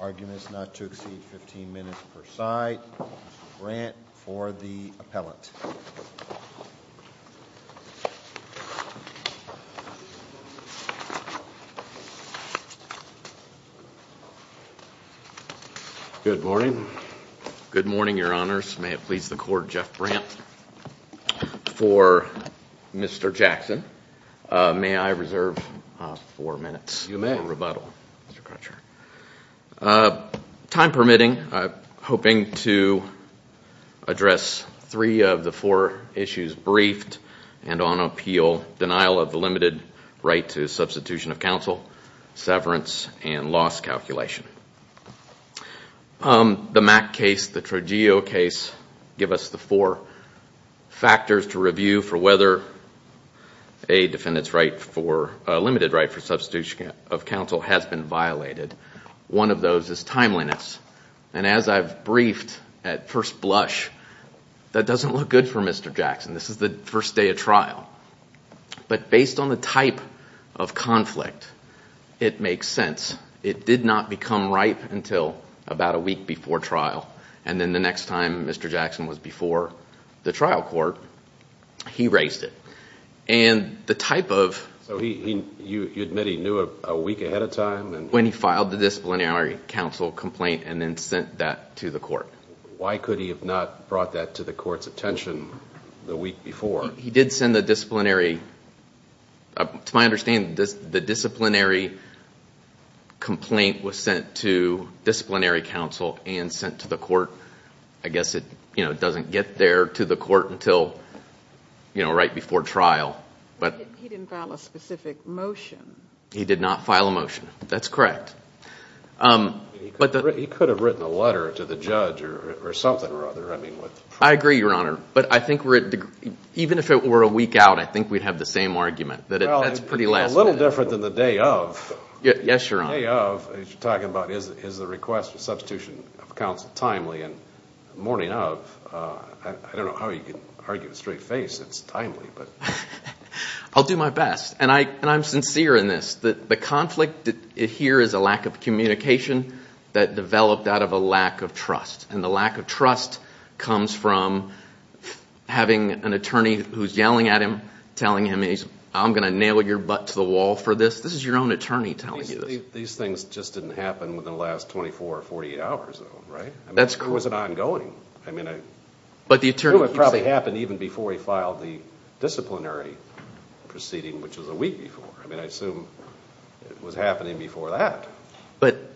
Arguments not to exceed 15 minutes per side, Mr. Brandt for the appellate. Good morning, your honors. May it please the court, Jeff Brandt. For Mr. Jackson, may I reserve four minutes for rebuttal. You may. Time permitting, I'm hoping to address three of the four issues, briefed and on appeal, denial of the limited right to substitution of counsel, severance, and loss calculation. The Mack case, the Trogeo case, give us the four factors to review for whether a defendant's limited right for substitution of counsel has been violated. One of those is timeliness. And as I've briefed at first blush, that doesn't look good for Mr. Jackson. This is the first day of trial. But based on the type of conflict, it makes sense. It did not become ripe until about a week before trial. And then the next time Mr. Jackson was before the trial court, he raised it. So you admit he knew a week ahead of time? When he filed the disciplinary counsel complaint and then sent that to the court. Why could he have not brought that to the court's attention the week before? To my understanding, the disciplinary complaint was sent to disciplinary counsel and sent to the court. I guess it doesn't get there to the court until right before trial. But he didn't file a specific motion. He did not file a motion. That's correct. He could have written a letter to the judge or something or other. I agree, Your Honor. But I think even if it were a week out, I think we'd have the same argument. It's a little different than the day of. Yes, Your Honor. The day of, as you're talking about, is the request for substitution of counsel timely. And the morning of, I don't know how you can argue with a straight face. It's timely. I'll do my best. And I'm sincere in this. The conflict here is a lack of communication that developed out of a lack of trust. And the lack of trust comes from having an attorney who's yelling at him, telling him, I'm going to nail your butt to the wall for this. This is your own attorney telling you this. These things just didn't happen within the last 24 or 48 hours, though, right? That's correct. Or was it ongoing? It probably happened even before he filed the disciplinary proceeding, which was a week before. I mean, I assume it was happening before that.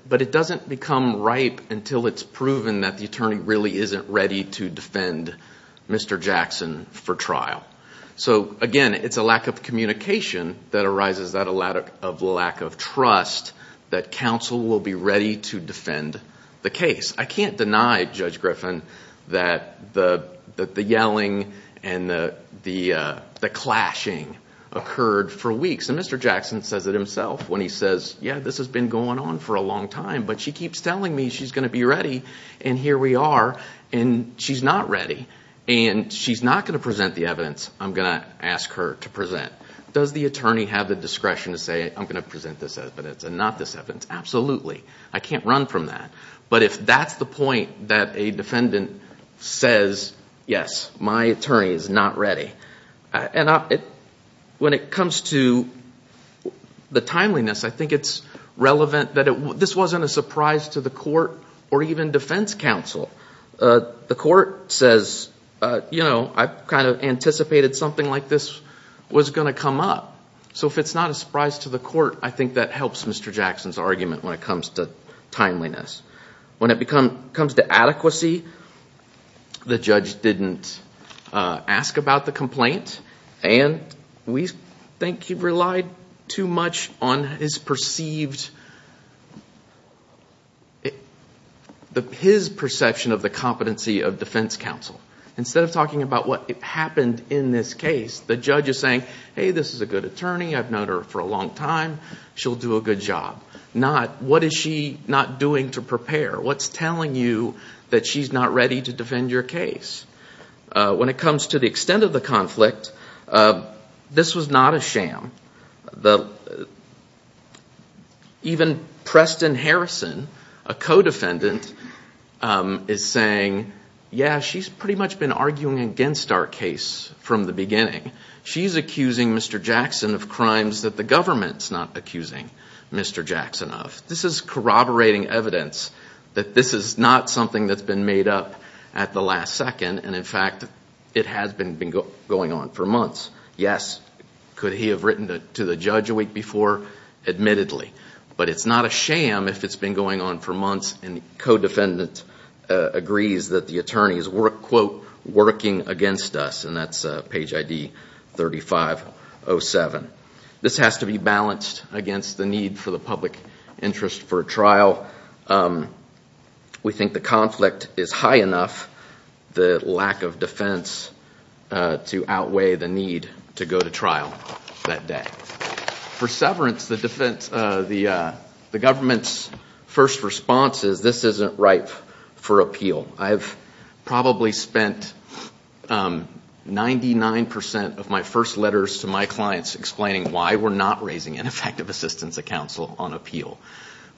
But it doesn't become ripe until it's proven that the attorney really isn't ready to defend Mr. Jackson for trial. So, again, it's a lack of communication that arises out of a lack of trust that counsel will be ready to defend the case. I can't deny, Judge Griffin, that the yelling and the clashing occurred for weeks. And Mr. Jackson says it himself when he says, yeah, this has been going on for a long time. But she keeps telling me she's going to be ready. And here we are. And she's not ready. And she's not going to present the evidence I'm going to ask her to present. Does the attorney have the discretion to say, I'm going to present this evidence and not this evidence? Absolutely. I can't run from that. But if that's the point that a defendant says, yes, my attorney is not ready. And when it comes to the timeliness, I think it's relevant that this wasn't a surprise to the court or even defense counsel. The court says, you know, I kind of anticipated something like this was going to come up. So if it's not a surprise to the court, I think that helps Mr. Jackson's argument when it comes to timeliness. When it comes to adequacy, the judge didn't ask about the complaint. And we think he relied too much on his perceived, his perception of the competency of defense counsel. Instead of talking about what happened in this case, the judge is saying, hey, this is a good attorney. I've known her for a long time. She'll do a good job. What is she not doing to prepare? What's telling you that she's not ready to defend your case? When it comes to the extent of the conflict, this was not a sham. Even Preston Harrison, a co-defendant, is saying, yeah, she's pretty much been arguing against our case from the beginning. She's accusing Mr. Jackson of crimes that the government's not accusing Mr. Jackson of. This is corroborating evidence that this is not something that's been made up at the last second. And, in fact, it has been going on for months. Yes, could he have written to the judge a week before? Admittedly. But it's not a sham if it's been going on for months and the co-defendant agrees that the attorney is, quote, working against us, and that's page ID 3507. This has to be balanced against the need for the public interest for a trial. We think the conflict is high enough, the lack of defense, to outweigh the need to go to trial that day. For severance, the government's first response is this isn't ripe for appeal. I've probably spent 99% of my first letters to my clients explaining why we're not raising an effective assistance of counsel on appeal.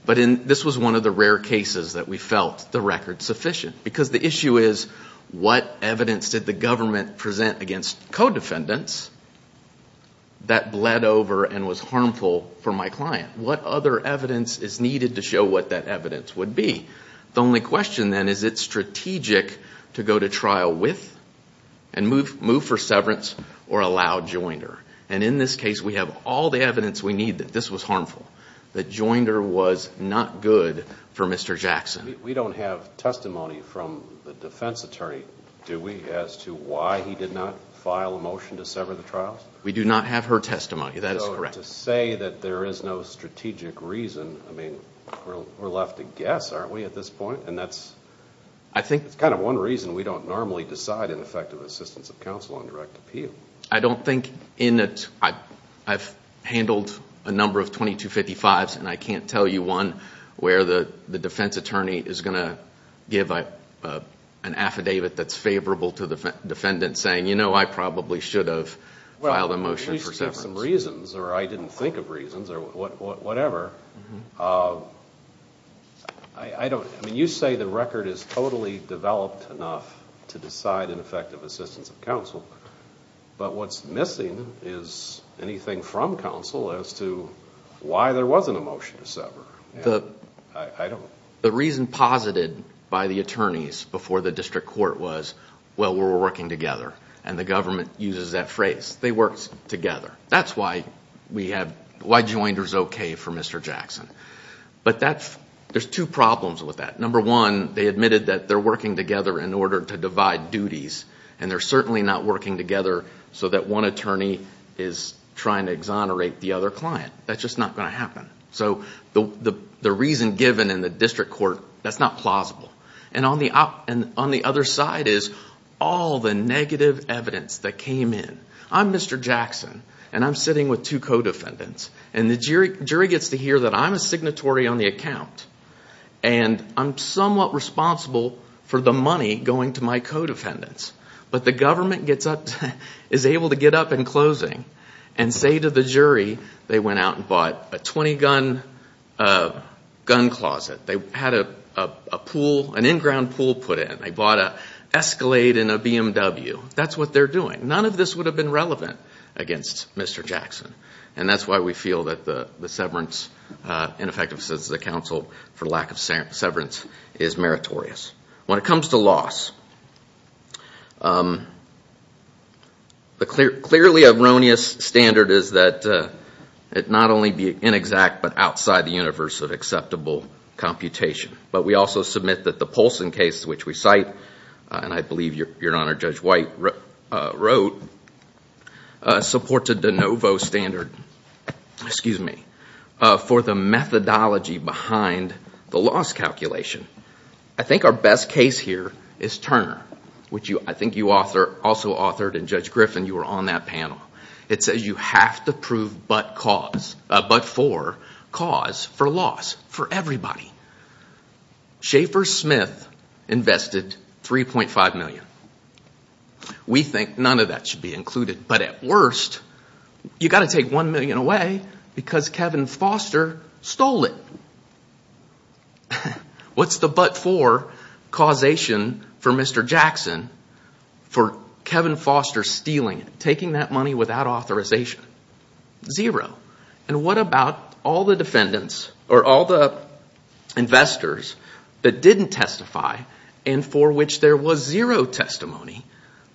But this was one of the rare cases that we felt the record sufficient. Because the issue is what evidence did the government present against co-defendants that bled over and was harmful for my client? What other evidence is needed to show what that evidence would be? The only question, then, is it strategic to go to trial with and move for severance or allow Joinder? And in this case, we have all the evidence we need that this was harmful, that Joinder was not good for Mr. Jackson. We don't have testimony from the defense attorney, do we, as to why he did not file a motion to sever the trials? We do not have her testimony. That is correct. To say that there is no strategic reason, I mean, we're left to guess, aren't we, at this point? And that's kind of one reason we don't normally decide an effective assistance of counsel on direct appeal. I've handled a number of 2255s, and I can't tell you one where the defense attorney is going to give an affidavit that's favorable to the defendant, saying, you know, I probably should have filed a motion for severance. There are some reasons, or I didn't think of reasons, or whatever. I mean, you say the record is totally developed enough to decide an effective assistance of counsel, but what's missing is anything from counsel as to why there wasn't a motion to sever. The reason posited by the attorneys before the district court was, well, we're working together, and the government uses that phrase. They work together. That's why Joinders is okay for Mr. Jackson. But there's two problems with that. Number one, they admitted that they're working together in order to divide duties, and they're certainly not working together so that one attorney is trying to exonerate the other client. That's just not going to happen. So the reason given in the district court, that's not plausible. And on the other side is all the negative evidence that came in. I'm Mr. Jackson, and I'm sitting with two co-defendants, and the jury gets to hear that I'm a signatory on the account, and I'm somewhat responsible for the money going to my co-defendants. But the government is able to get up in closing and say to the jury they went out and bought a 20-gun gun closet. They had an in-ground pool put in. They bought an Escalade and a BMW. That's what they're doing. None of this would have been relevant against Mr. Jackson, and that's why we feel that the severance, ineffectiveness of the counsel for lack of severance is meritorious. When it comes to loss, the clearly erroneous standard is that it not only be inexact but outside the universe of acceptable computation. But we also submit that the Polson case, which we cite, and I believe, Your Honor, Judge White wrote, supports a de novo standard for the methodology behind the loss calculation. I think our best case here is Turner, which I think you also authored, and Judge Griffin, you were on that panel. It says you have to prove but-for cause for loss for everybody. Schaefer Smith invested $3.5 million. We think none of that should be included. But at worst, you've got to take $1 million away because Kevin Foster stole it. What's the but-for causation for Mr. Jackson for Kevin Foster stealing it, taking that money without authorization? Zero. And what about all the defendants or all the investors that didn't testify and for which there was zero testimony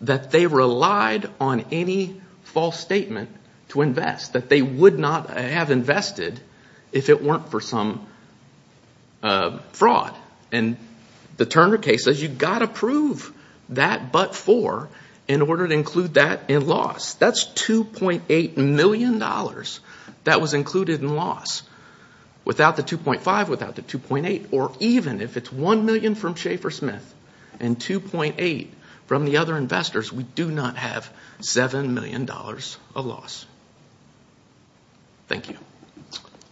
that they relied on any false statement to invest, that they would not have invested if it weren't for some fraud? And the Turner case says you've got to prove that but-for in order to include that in loss. That's $2.8 million that was included in loss. Without the $2.5, without the $2.8, or even if it's $1 million from Schaefer Smith and $2.8 from the other investors, we do not have $7 million of loss. Thank you.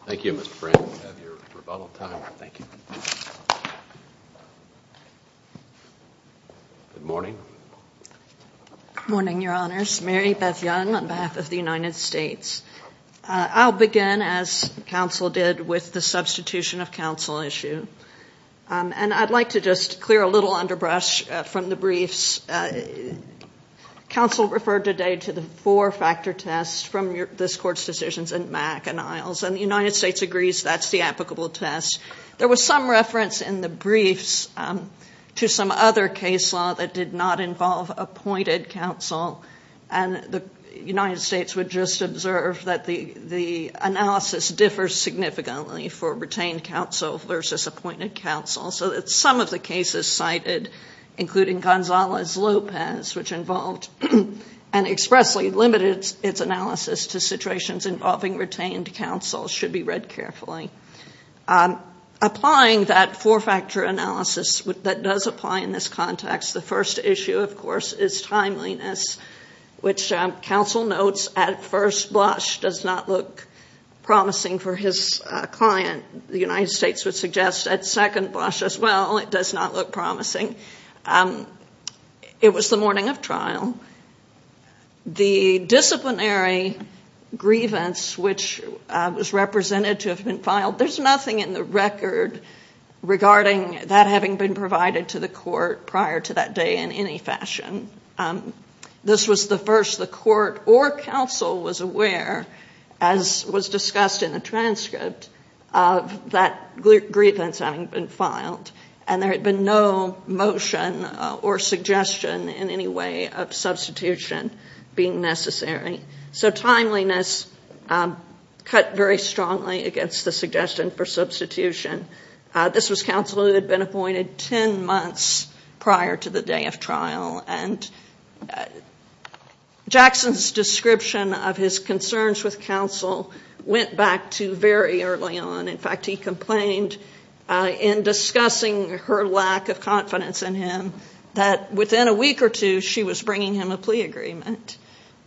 Thank you, Mr. Frank. We have your rebuttal time. Thank you. Good morning. Good morning, Your Honors. Mary Beth Young on behalf of the United States. I'll begin, as counsel did, with the substitution of counsel issue. And I'd like to just clear a little underbrush from the briefs. Counsel referred today to the four-factor test from this Court's decisions in Mack and Isles, and the United States agrees that's the applicable test. There was some reference in the briefs to some other case law that did not involve appointed counsel, and the United States would just observe that the analysis differs significantly for retained counsel versus appointed counsel, so that some of the cases cited, including Gonzalez-Lopez, which involved and expressly limited its analysis to situations involving retained counsel, should be read carefully. Applying that four-factor analysis that does apply in this context, the first issue, of course, is timeliness, which counsel notes at first blush does not look promising for his client. The United States would suggest at second blush as well it does not look promising. It was the morning of trial. The disciplinary grievance which was represented to have been filed, there's nothing in the record regarding that having been provided to the court prior to that day in any fashion. This was the first the court or counsel was aware, as was discussed in the transcript, of that grievance having been filed, and there had been no motion or suggestion in any way of substitution being necessary. So timeliness cut very strongly against the suggestion for substitution. This was counsel who had been appointed ten months prior to the day of trial, and Jackson's description of his concerns with counsel went back to very early on. In fact, he complained in discussing her lack of confidence in him that within a week or two, she was bringing him a plea agreement,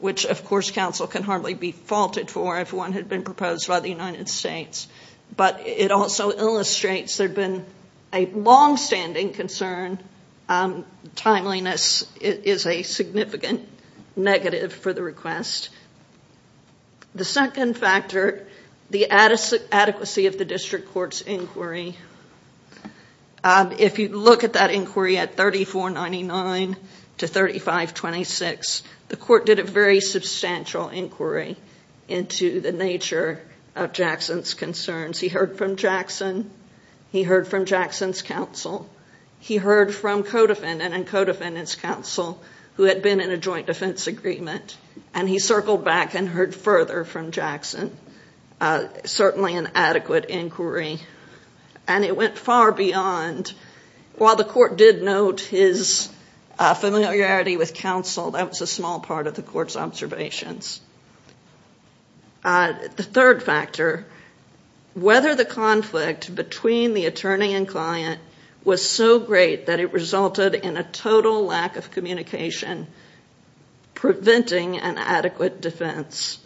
which, of course, counsel can hardly be faulted for if one had been proposed by the United States. But it also illustrates there had been a longstanding concern. Timeliness is a significant negative for the request. The second factor, the adequacy of the district court's inquiry. If you look at that inquiry at 3499 to 3526, the court did a very substantial inquiry into the nature of Jackson's concerns. He heard from Jackson. He heard from Jackson's counsel. He heard from co-defendant and co-defendant's counsel who had been in a joint defense agreement, and he circled back and heard further from Jackson. Certainly an adequate inquiry, and it went far beyond. And while the court did note his familiarity with counsel, that was a small part of the court's observations. The third factor, whether the conflict between the attorney and client was so great that it resulted in a total lack of communication, preventing an adequate defense.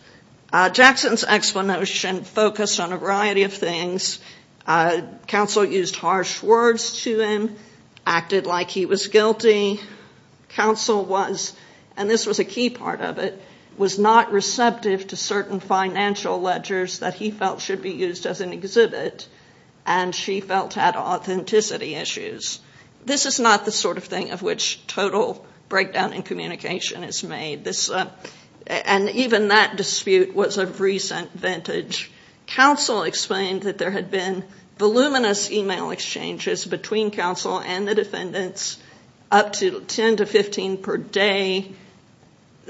Jackson's explanation focused on a variety of things. Counsel used harsh words to him, acted like he was guilty. Counsel was, and this was a key part of it, was not receptive to certain financial ledgers that he felt should be used as an exhibit, and she felt had authenticity issues. This is not the sort of thing of which total breakdown in communication is made. And even that dispute was of recent vintage. Counsel explained that there had been voluminous e-mail exchanges between counsel and the defendants, up to 10 to 15 per day,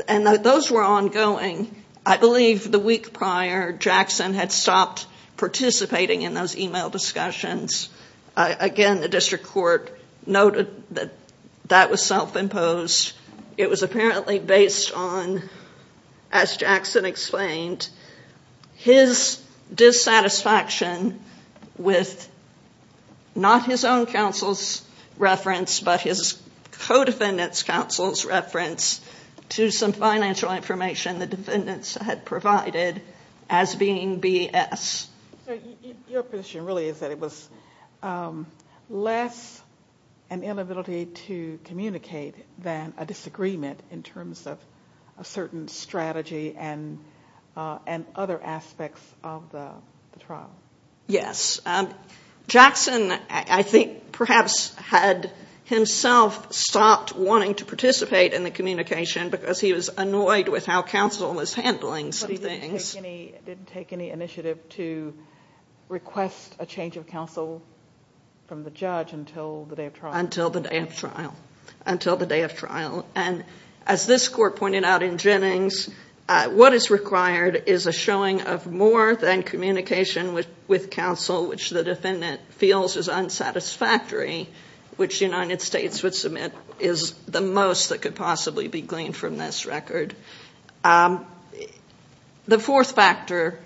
and that those were ongoing. I believe the week prior, Jackson had stopped participating in those e-mail discussions. Again, the district court noted that that was self-imposed. It was apparently based on, as Jackson explained, his dissatisfaction with not his own counsel's reference, but his co-defendant's counsel's reference to some financial information the defendants had provided as being BS. So your position really is that it was less an inability to communicate than a disagreement in terms of a certain strategy and other aspects of the trial. Yes. Jackson, I think, perhaps had himself stopped wanting to participate in the communication because he was annoyed with how counsel was handling some things. He didn't take any initiative to request a change of counsel from the judge until the day of trial. Until the day of trial. Until the day of trial. And as this court pointed out in Jennings, what is required is a showing of more than communication with counsel, which the defendant feels is unsatisfactory, which the United States would submit is the most that could possibly be gleaned from this record. The fourth factor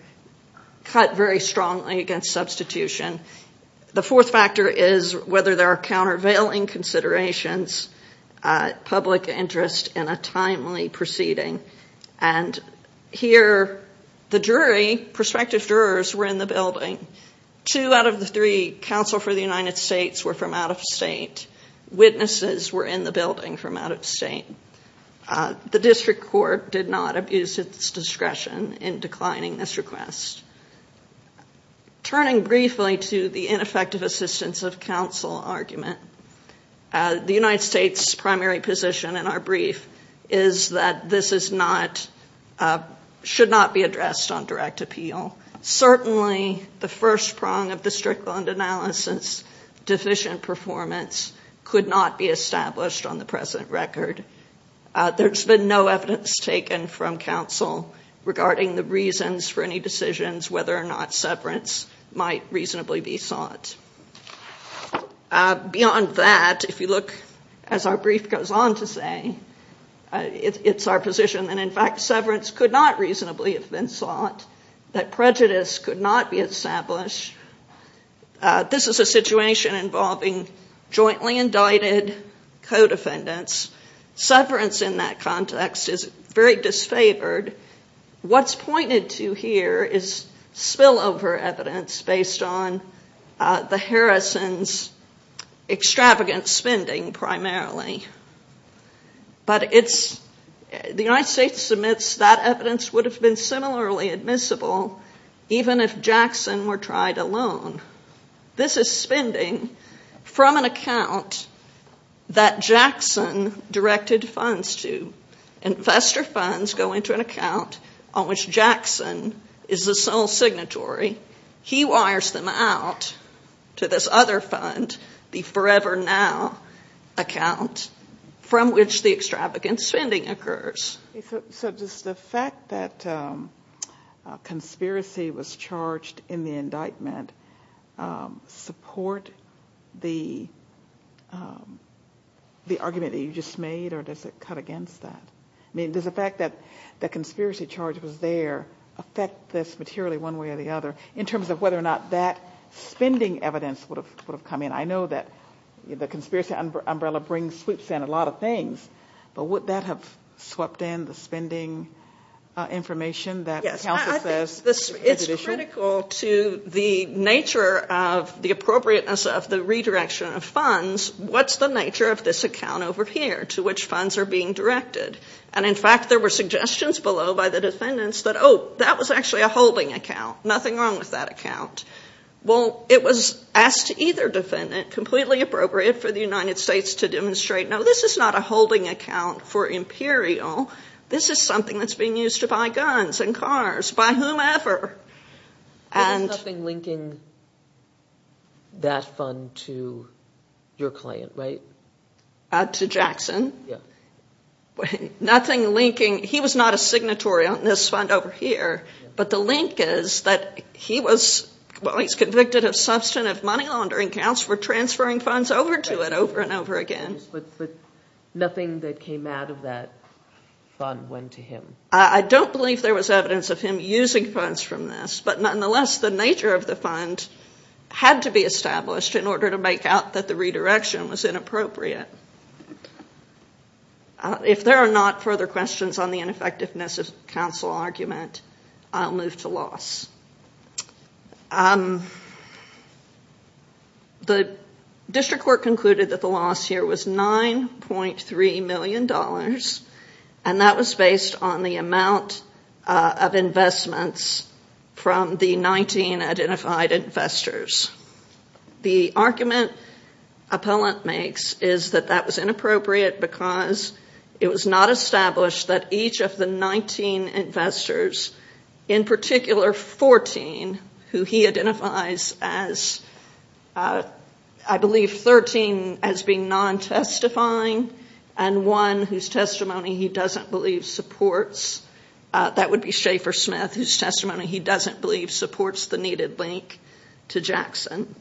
cut very strongly against substitution. The fourth factor is whether there are countervailing considerations, public interest in a timely proceeding. And here the jury, prospective jurors, were in the building. Two out of the three counsel for the United States were from out of state. Witnesses were in the building from out of state. The district court did not abuse its discretion in declining this request. Turning briefly to the ineffective assistance of counsel argument, the United States' primary position in our brief is that this should not be addressed on direct appeal. Certainly the first prong of the Strickland analysis, deficient performance, could not be established on the present record. There's been no evidence taken from counsel regarding the reasons for any decisions, whether or not severance might reasonably be sought. Beyond that, if you look, as our brief goes on to say, it's our position, and in fact severance could not reasonably have been sought, that prejudice could not be established. This is a situation involving jointly indicted co-defendants. Severance in that context is very disfavored. What's pointed to here is spillover evidence based on the Harrison's extravagant spending primarily. But the United States submits that evidence would have been similarly admissible even if Jackson were tried alone. This is spending from an account that Jackson directed funds to. Investor funds go into an account on which Jackson is the sole signatory. He wires them out to this other fund, the Forever Now account, from which the extravagant spending occurs. So does the fact that conspiracy was charged in the indictment support the argument that you just made, or does it cut against that? I mean, does the fact that the conspiracy charge was there affect this materially one way or the other, in terms of whether or not that spending evidence would have come in? I know that the conspiracy umbrella brings in a lot of things, but would that have swept in the spending information that counsel says? Yes. It's critical to the nature of the appropriateness of the redirection of funds. What's the nature of this account over here to which funds are being directed? And, in fact, there were suggestions below by the defendants that, oh, that was actually a holding account. Nothing wrong with that account. Well, it was asked to either defendant, completely appropriate for the United States to demonstrate, no, this is not a holding account for Imperial. This is something that's being used to buy guns and cars, buy whomever. There's nothing linking that fund to your client, right? To Jackson? Yeah. Nothing linking. He was not a signatory on this fund over here, but the link is that he was, well, he's convicted of substantive money laundering counts for transferring funds over to it over and over again. But nothing that came out of that fund went to him? I don't believe there was evidence of him using funds from this, but, nonetheless, the nature of the fund had to be established in order to make out that the redirection was inappropriate. If there are not further questions on the ineffectiveness of counsel argument, I'll move to loss. The district court concluded that the loss here was $9.3 million, and that was based on the amount of investments from the 19 identified investors. The argument appellant makes is that that was inappropriate because it was not established that each of the 19 investors, in particular 14, who he identifies as, I believe, 13 as being non-testifying, and one whose testimony he doesn't believe supports, that would be Schaefer Smith, whose testimony he doesn't believe supports the needed link to Jackson.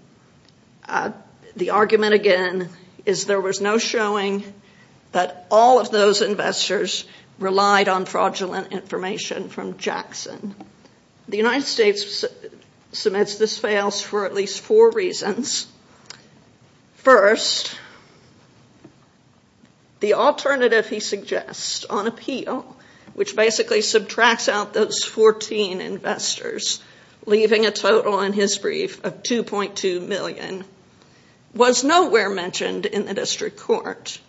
The argument, again, is there was no showing that all of those investors relied on fraudulent information from Jackson. The United States submits this fails for at least four reasons. First, the alternative he suggests on appeal, which basically subtracts out those 14 investors, leaving a total, in his brief, of $2.2 million, was nowhere mentioned in the district court.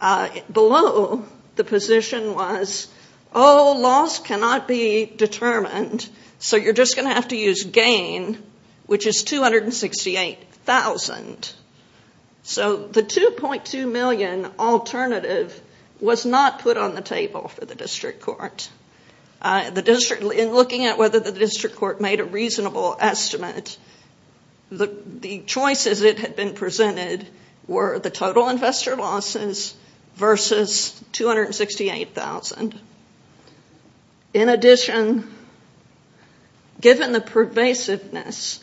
Below the position was, oh, loss cannot be determined, so you're just going to have to use gain, which is $268,000. So the $2.2 million alternative was not put on the table for the district court. In looking at whether the district court made a reasonable estimate, the choices that had been presented were the total investor losses versus $268,000. In addition, given the pervasiveness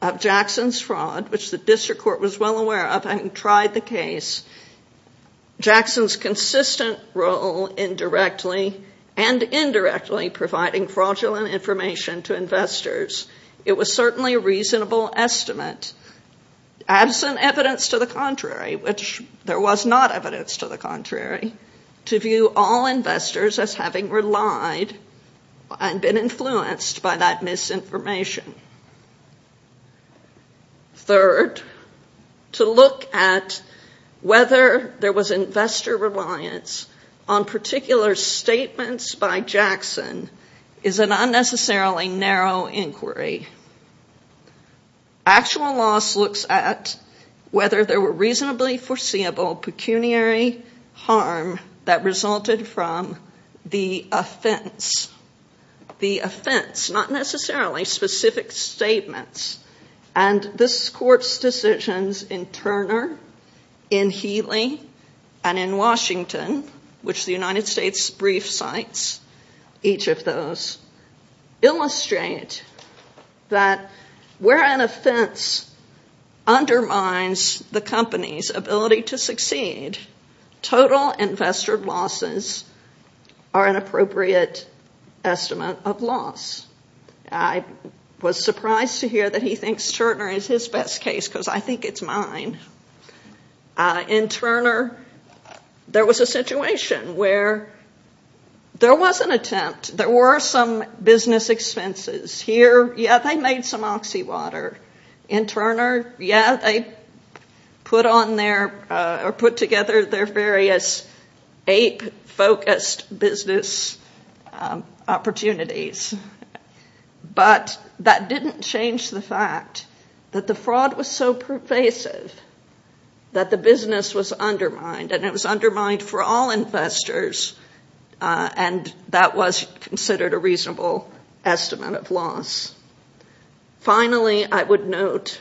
of Jackson's fraud, which the district court was well aware of, and tried the case, Jackson's consistent role indirectly and indirectly providing fraudulent information to investors, it was certainly a reasonable estimate, absent evidence to the contrary, which there was not evidence to the contrary, to view all investors as having relied and been influenced by that misinformation. Third, to look at whether there was investor reliance on particular statements by Jackson is an unnecessarily narrow inquiry. Actual loss looks at whether there were reasonably foreseeable pecuniary harm that resulted from the offense. The offense, not necessarily specific statements, and this court's decisions in Turner, in Healy, and in Washington, which the United States brief cites each of those, illustrate that where an offense undermines the company's ability to succeed, total investor losses are an appropriate estimate of loss. I was surprised to hear that he thinks Turner is his best case, because I think it's mine. In Turner, there was a situation where there was an attempt. There were some business expenses here. Yeah, they made some oxy water. In Turner, yeah, they put together their various ape-focused business opportunities. But that didn't change the fact that the fraud was so pervasive that the business was undermined, and it was undermined for all investors, and that was considered a reasonable estimate of loss. Finally, I would note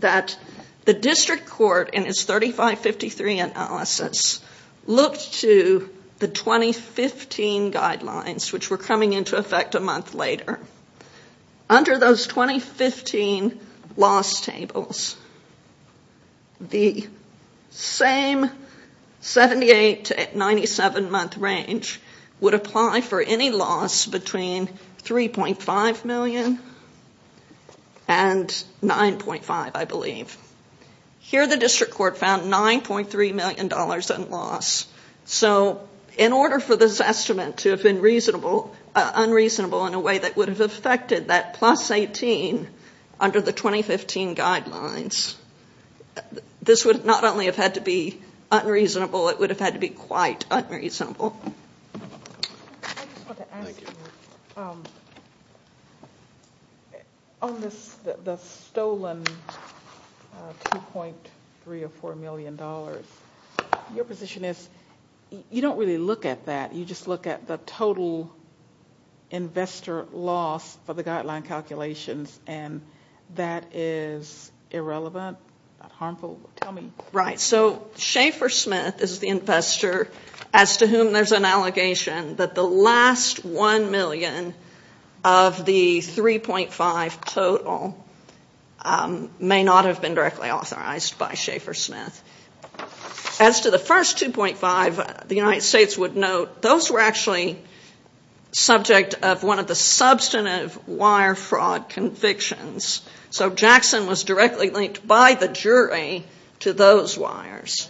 that the district court, in its 3553 analysis, looked to the 2015 guidelines, which were coming into effect a month later. Under those 2015 loss tables, the same 78 to 97-month range would apply for any loss between $3.5 million and $9.5 million, I believe. Here, the district court found $9.3 million in loss. In order for this estimate to have been unreasonable in a way that would have affected that plus 18 under the 2015 guidelines, this would not only have had to be unreasonable, it would have had to be quite unreasonable. I just want to ask you, on the stolen $2.3 or $4 million, your position is you don't really look at that. You just look at the total investor loss for the guideline calculations, and that is irrelevant, not harmful? Tell me. Right, so Schaefer Smith is the investor as to whom there's an allegation that the last $1 million of the $3.5 million total may not have been directly authorized by Schaefer Smith. As to the first $2.5 million, the United States would note those were actually subject of one of the substantive wire fraud convictions. So Jackson was directly linked by the jury to those wires.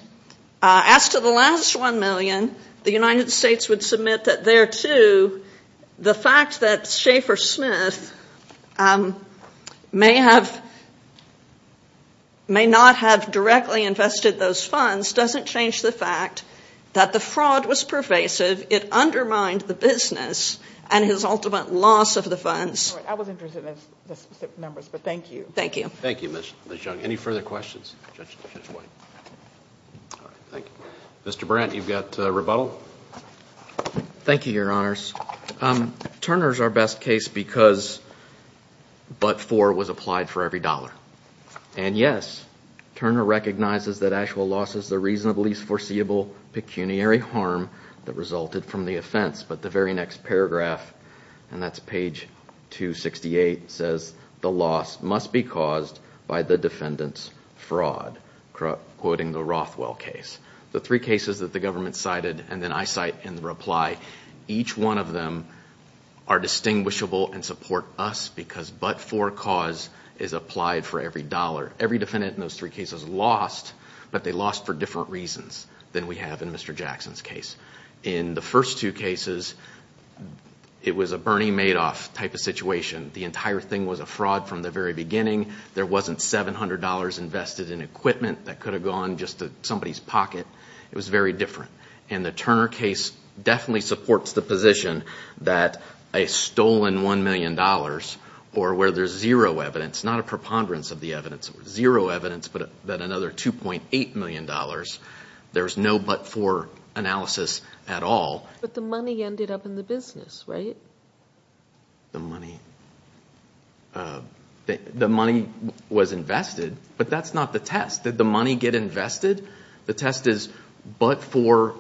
As to the last $1 million, the United States would submit that there, too, the fact that Schaefer Smith may not have directly invested those funds doesn't change the fact that the fraud was pervasive. It undermined the business and his ultimate loss of the funds. I was interested in the specific numbers, but thank you. Thank you. Thank you, Ms. Young. Any further questions? Judge White. All right, thank you. Mr. Brandt, you've got rebuttal. Thank you, Your Honors. Turner's our best case because but for was applied for every dollar. And yes, Turner recognizes that actual loss is the reasonably foreseeable pecuniary harm that resulted from the offense. But the very next paragraph, and that's page 268, says the loss must be caused by the defendant's fraud, quoting the Rothwell case. The three cases that the government cited and then I cite in the reply, each one of them are distinguishable and support us because but for cause is applied for every dollar. Every defendant in those three cases lost, but they lost for different reasons than we have in Mr. Jackson's case. In the first two cases, it was a Bernie Madoff type of situation. The entire thing was a fraud from the very beginning. There wasn't $700 invested in equipment that could have gone just to somebody's pocket. It was very different. And the Turner case definitely supports the position that a stolen $1 million or where there's zero evidence, not a preponderance of the evidence, but that another $2.8 million, there's no but for analysis at all. But the money ended up in the business, right? The money was invested, but that's not the test. Did the money get invested? The test is but for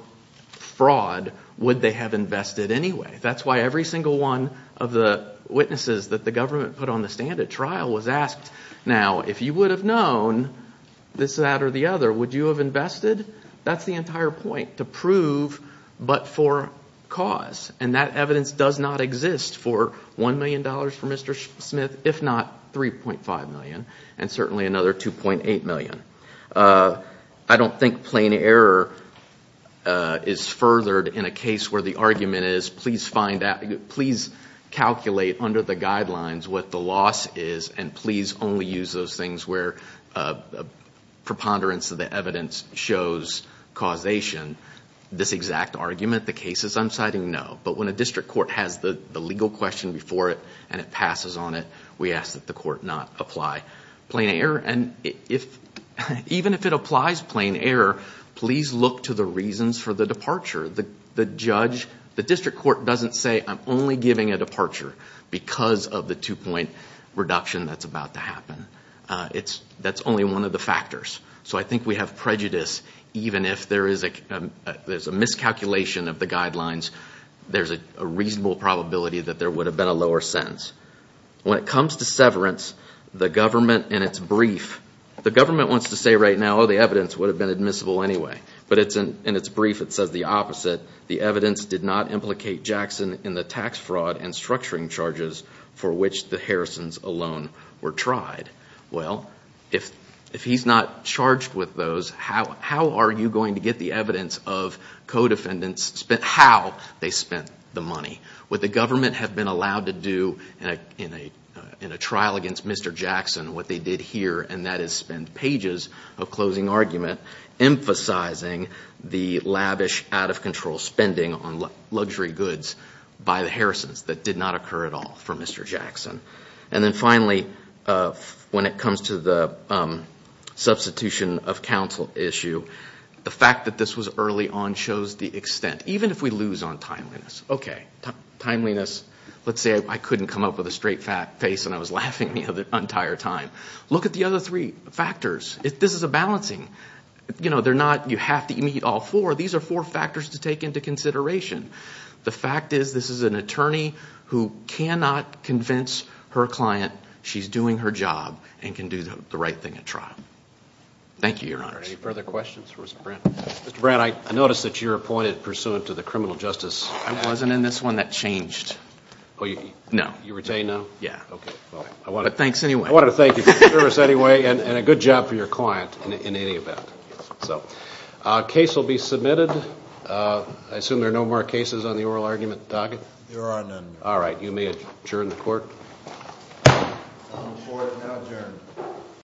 fraud, would they have invested anyway? That's why every single one of the witnesses that the government put on the stand at trial was asked, now, if you would have known this, that, or the other, would you have invested? That's the entire point, to prove but for cause. And that evidence does not exist for $1 million for Mr. Smith, if not $3.5 million, and certainly another $2.8 million. I don't think plain error is furthered in a case where the argument is, please calculate under the guidelines what the loss is, and please only use those things where preponderance of the evidence shows causation. This exact argument, the cases I'm citing, no. But when a district court has the legal question before it and it passes on it, we ask that the court not apply plain error. And even if it applies plain error, please look to the reasons for the departure. The judge, the district court doesn't say, I'm only giving a departure because of the two-point reduction that's about to happen. That's only one of the factors. So I think we have prejudice, even if there is a miscalculation of the guidelines, there's a reasonable probability that there would have been a lower sentence. When it comes to severance, the government in its brief, the government wants to say right now, oh, the evidence would have been admissible anyway. But in its brief it says the opposite. The evidence did not implicate Jackson in the tax fraud and structuring charges for which the Harrisons alone were tried. Well, if he's not charged with those, how are you going to get the evidence of co-defendants, how they spent the money? What the government had been allowed to do in a trial against Mr. Jackson, what they did here, and that is spend pages of closing argument, emphasizing the lavish, out-of-control spending on luxury goods by the Harrisons that did not occur at all for Mr. Jackson. And then finally, when it comes to the substitution of counsel issue, the fact that this was early on shows the extent. Even if we lose on timeliness, okay, timeliness, let's say I couldn't come up with a straight face and I was laughing the entire time. Look at the other three factors. This is a balancing. They're not you have to meet all four. These are four factors to take into consideration. The fact is this is an attorney who cannot convince her client she's doing her job and can do the right thing at trial. Thank you, Your Honors. Any further questions for Mr. Brandt? Mr. Brandt, I noticed that you're appointed pursuant to the criminal justice act. I wasn't in this one. That changed. Oh, you were detained now? Yeah. Okay. But thanks anyway. I wanted to thank you for your service anyway and a good job for your client in any event. Case will be submitted. I assume there are no more cases on the oral argument. Doug? There are none. All right. You may adjourn the court. The court is now adjourned.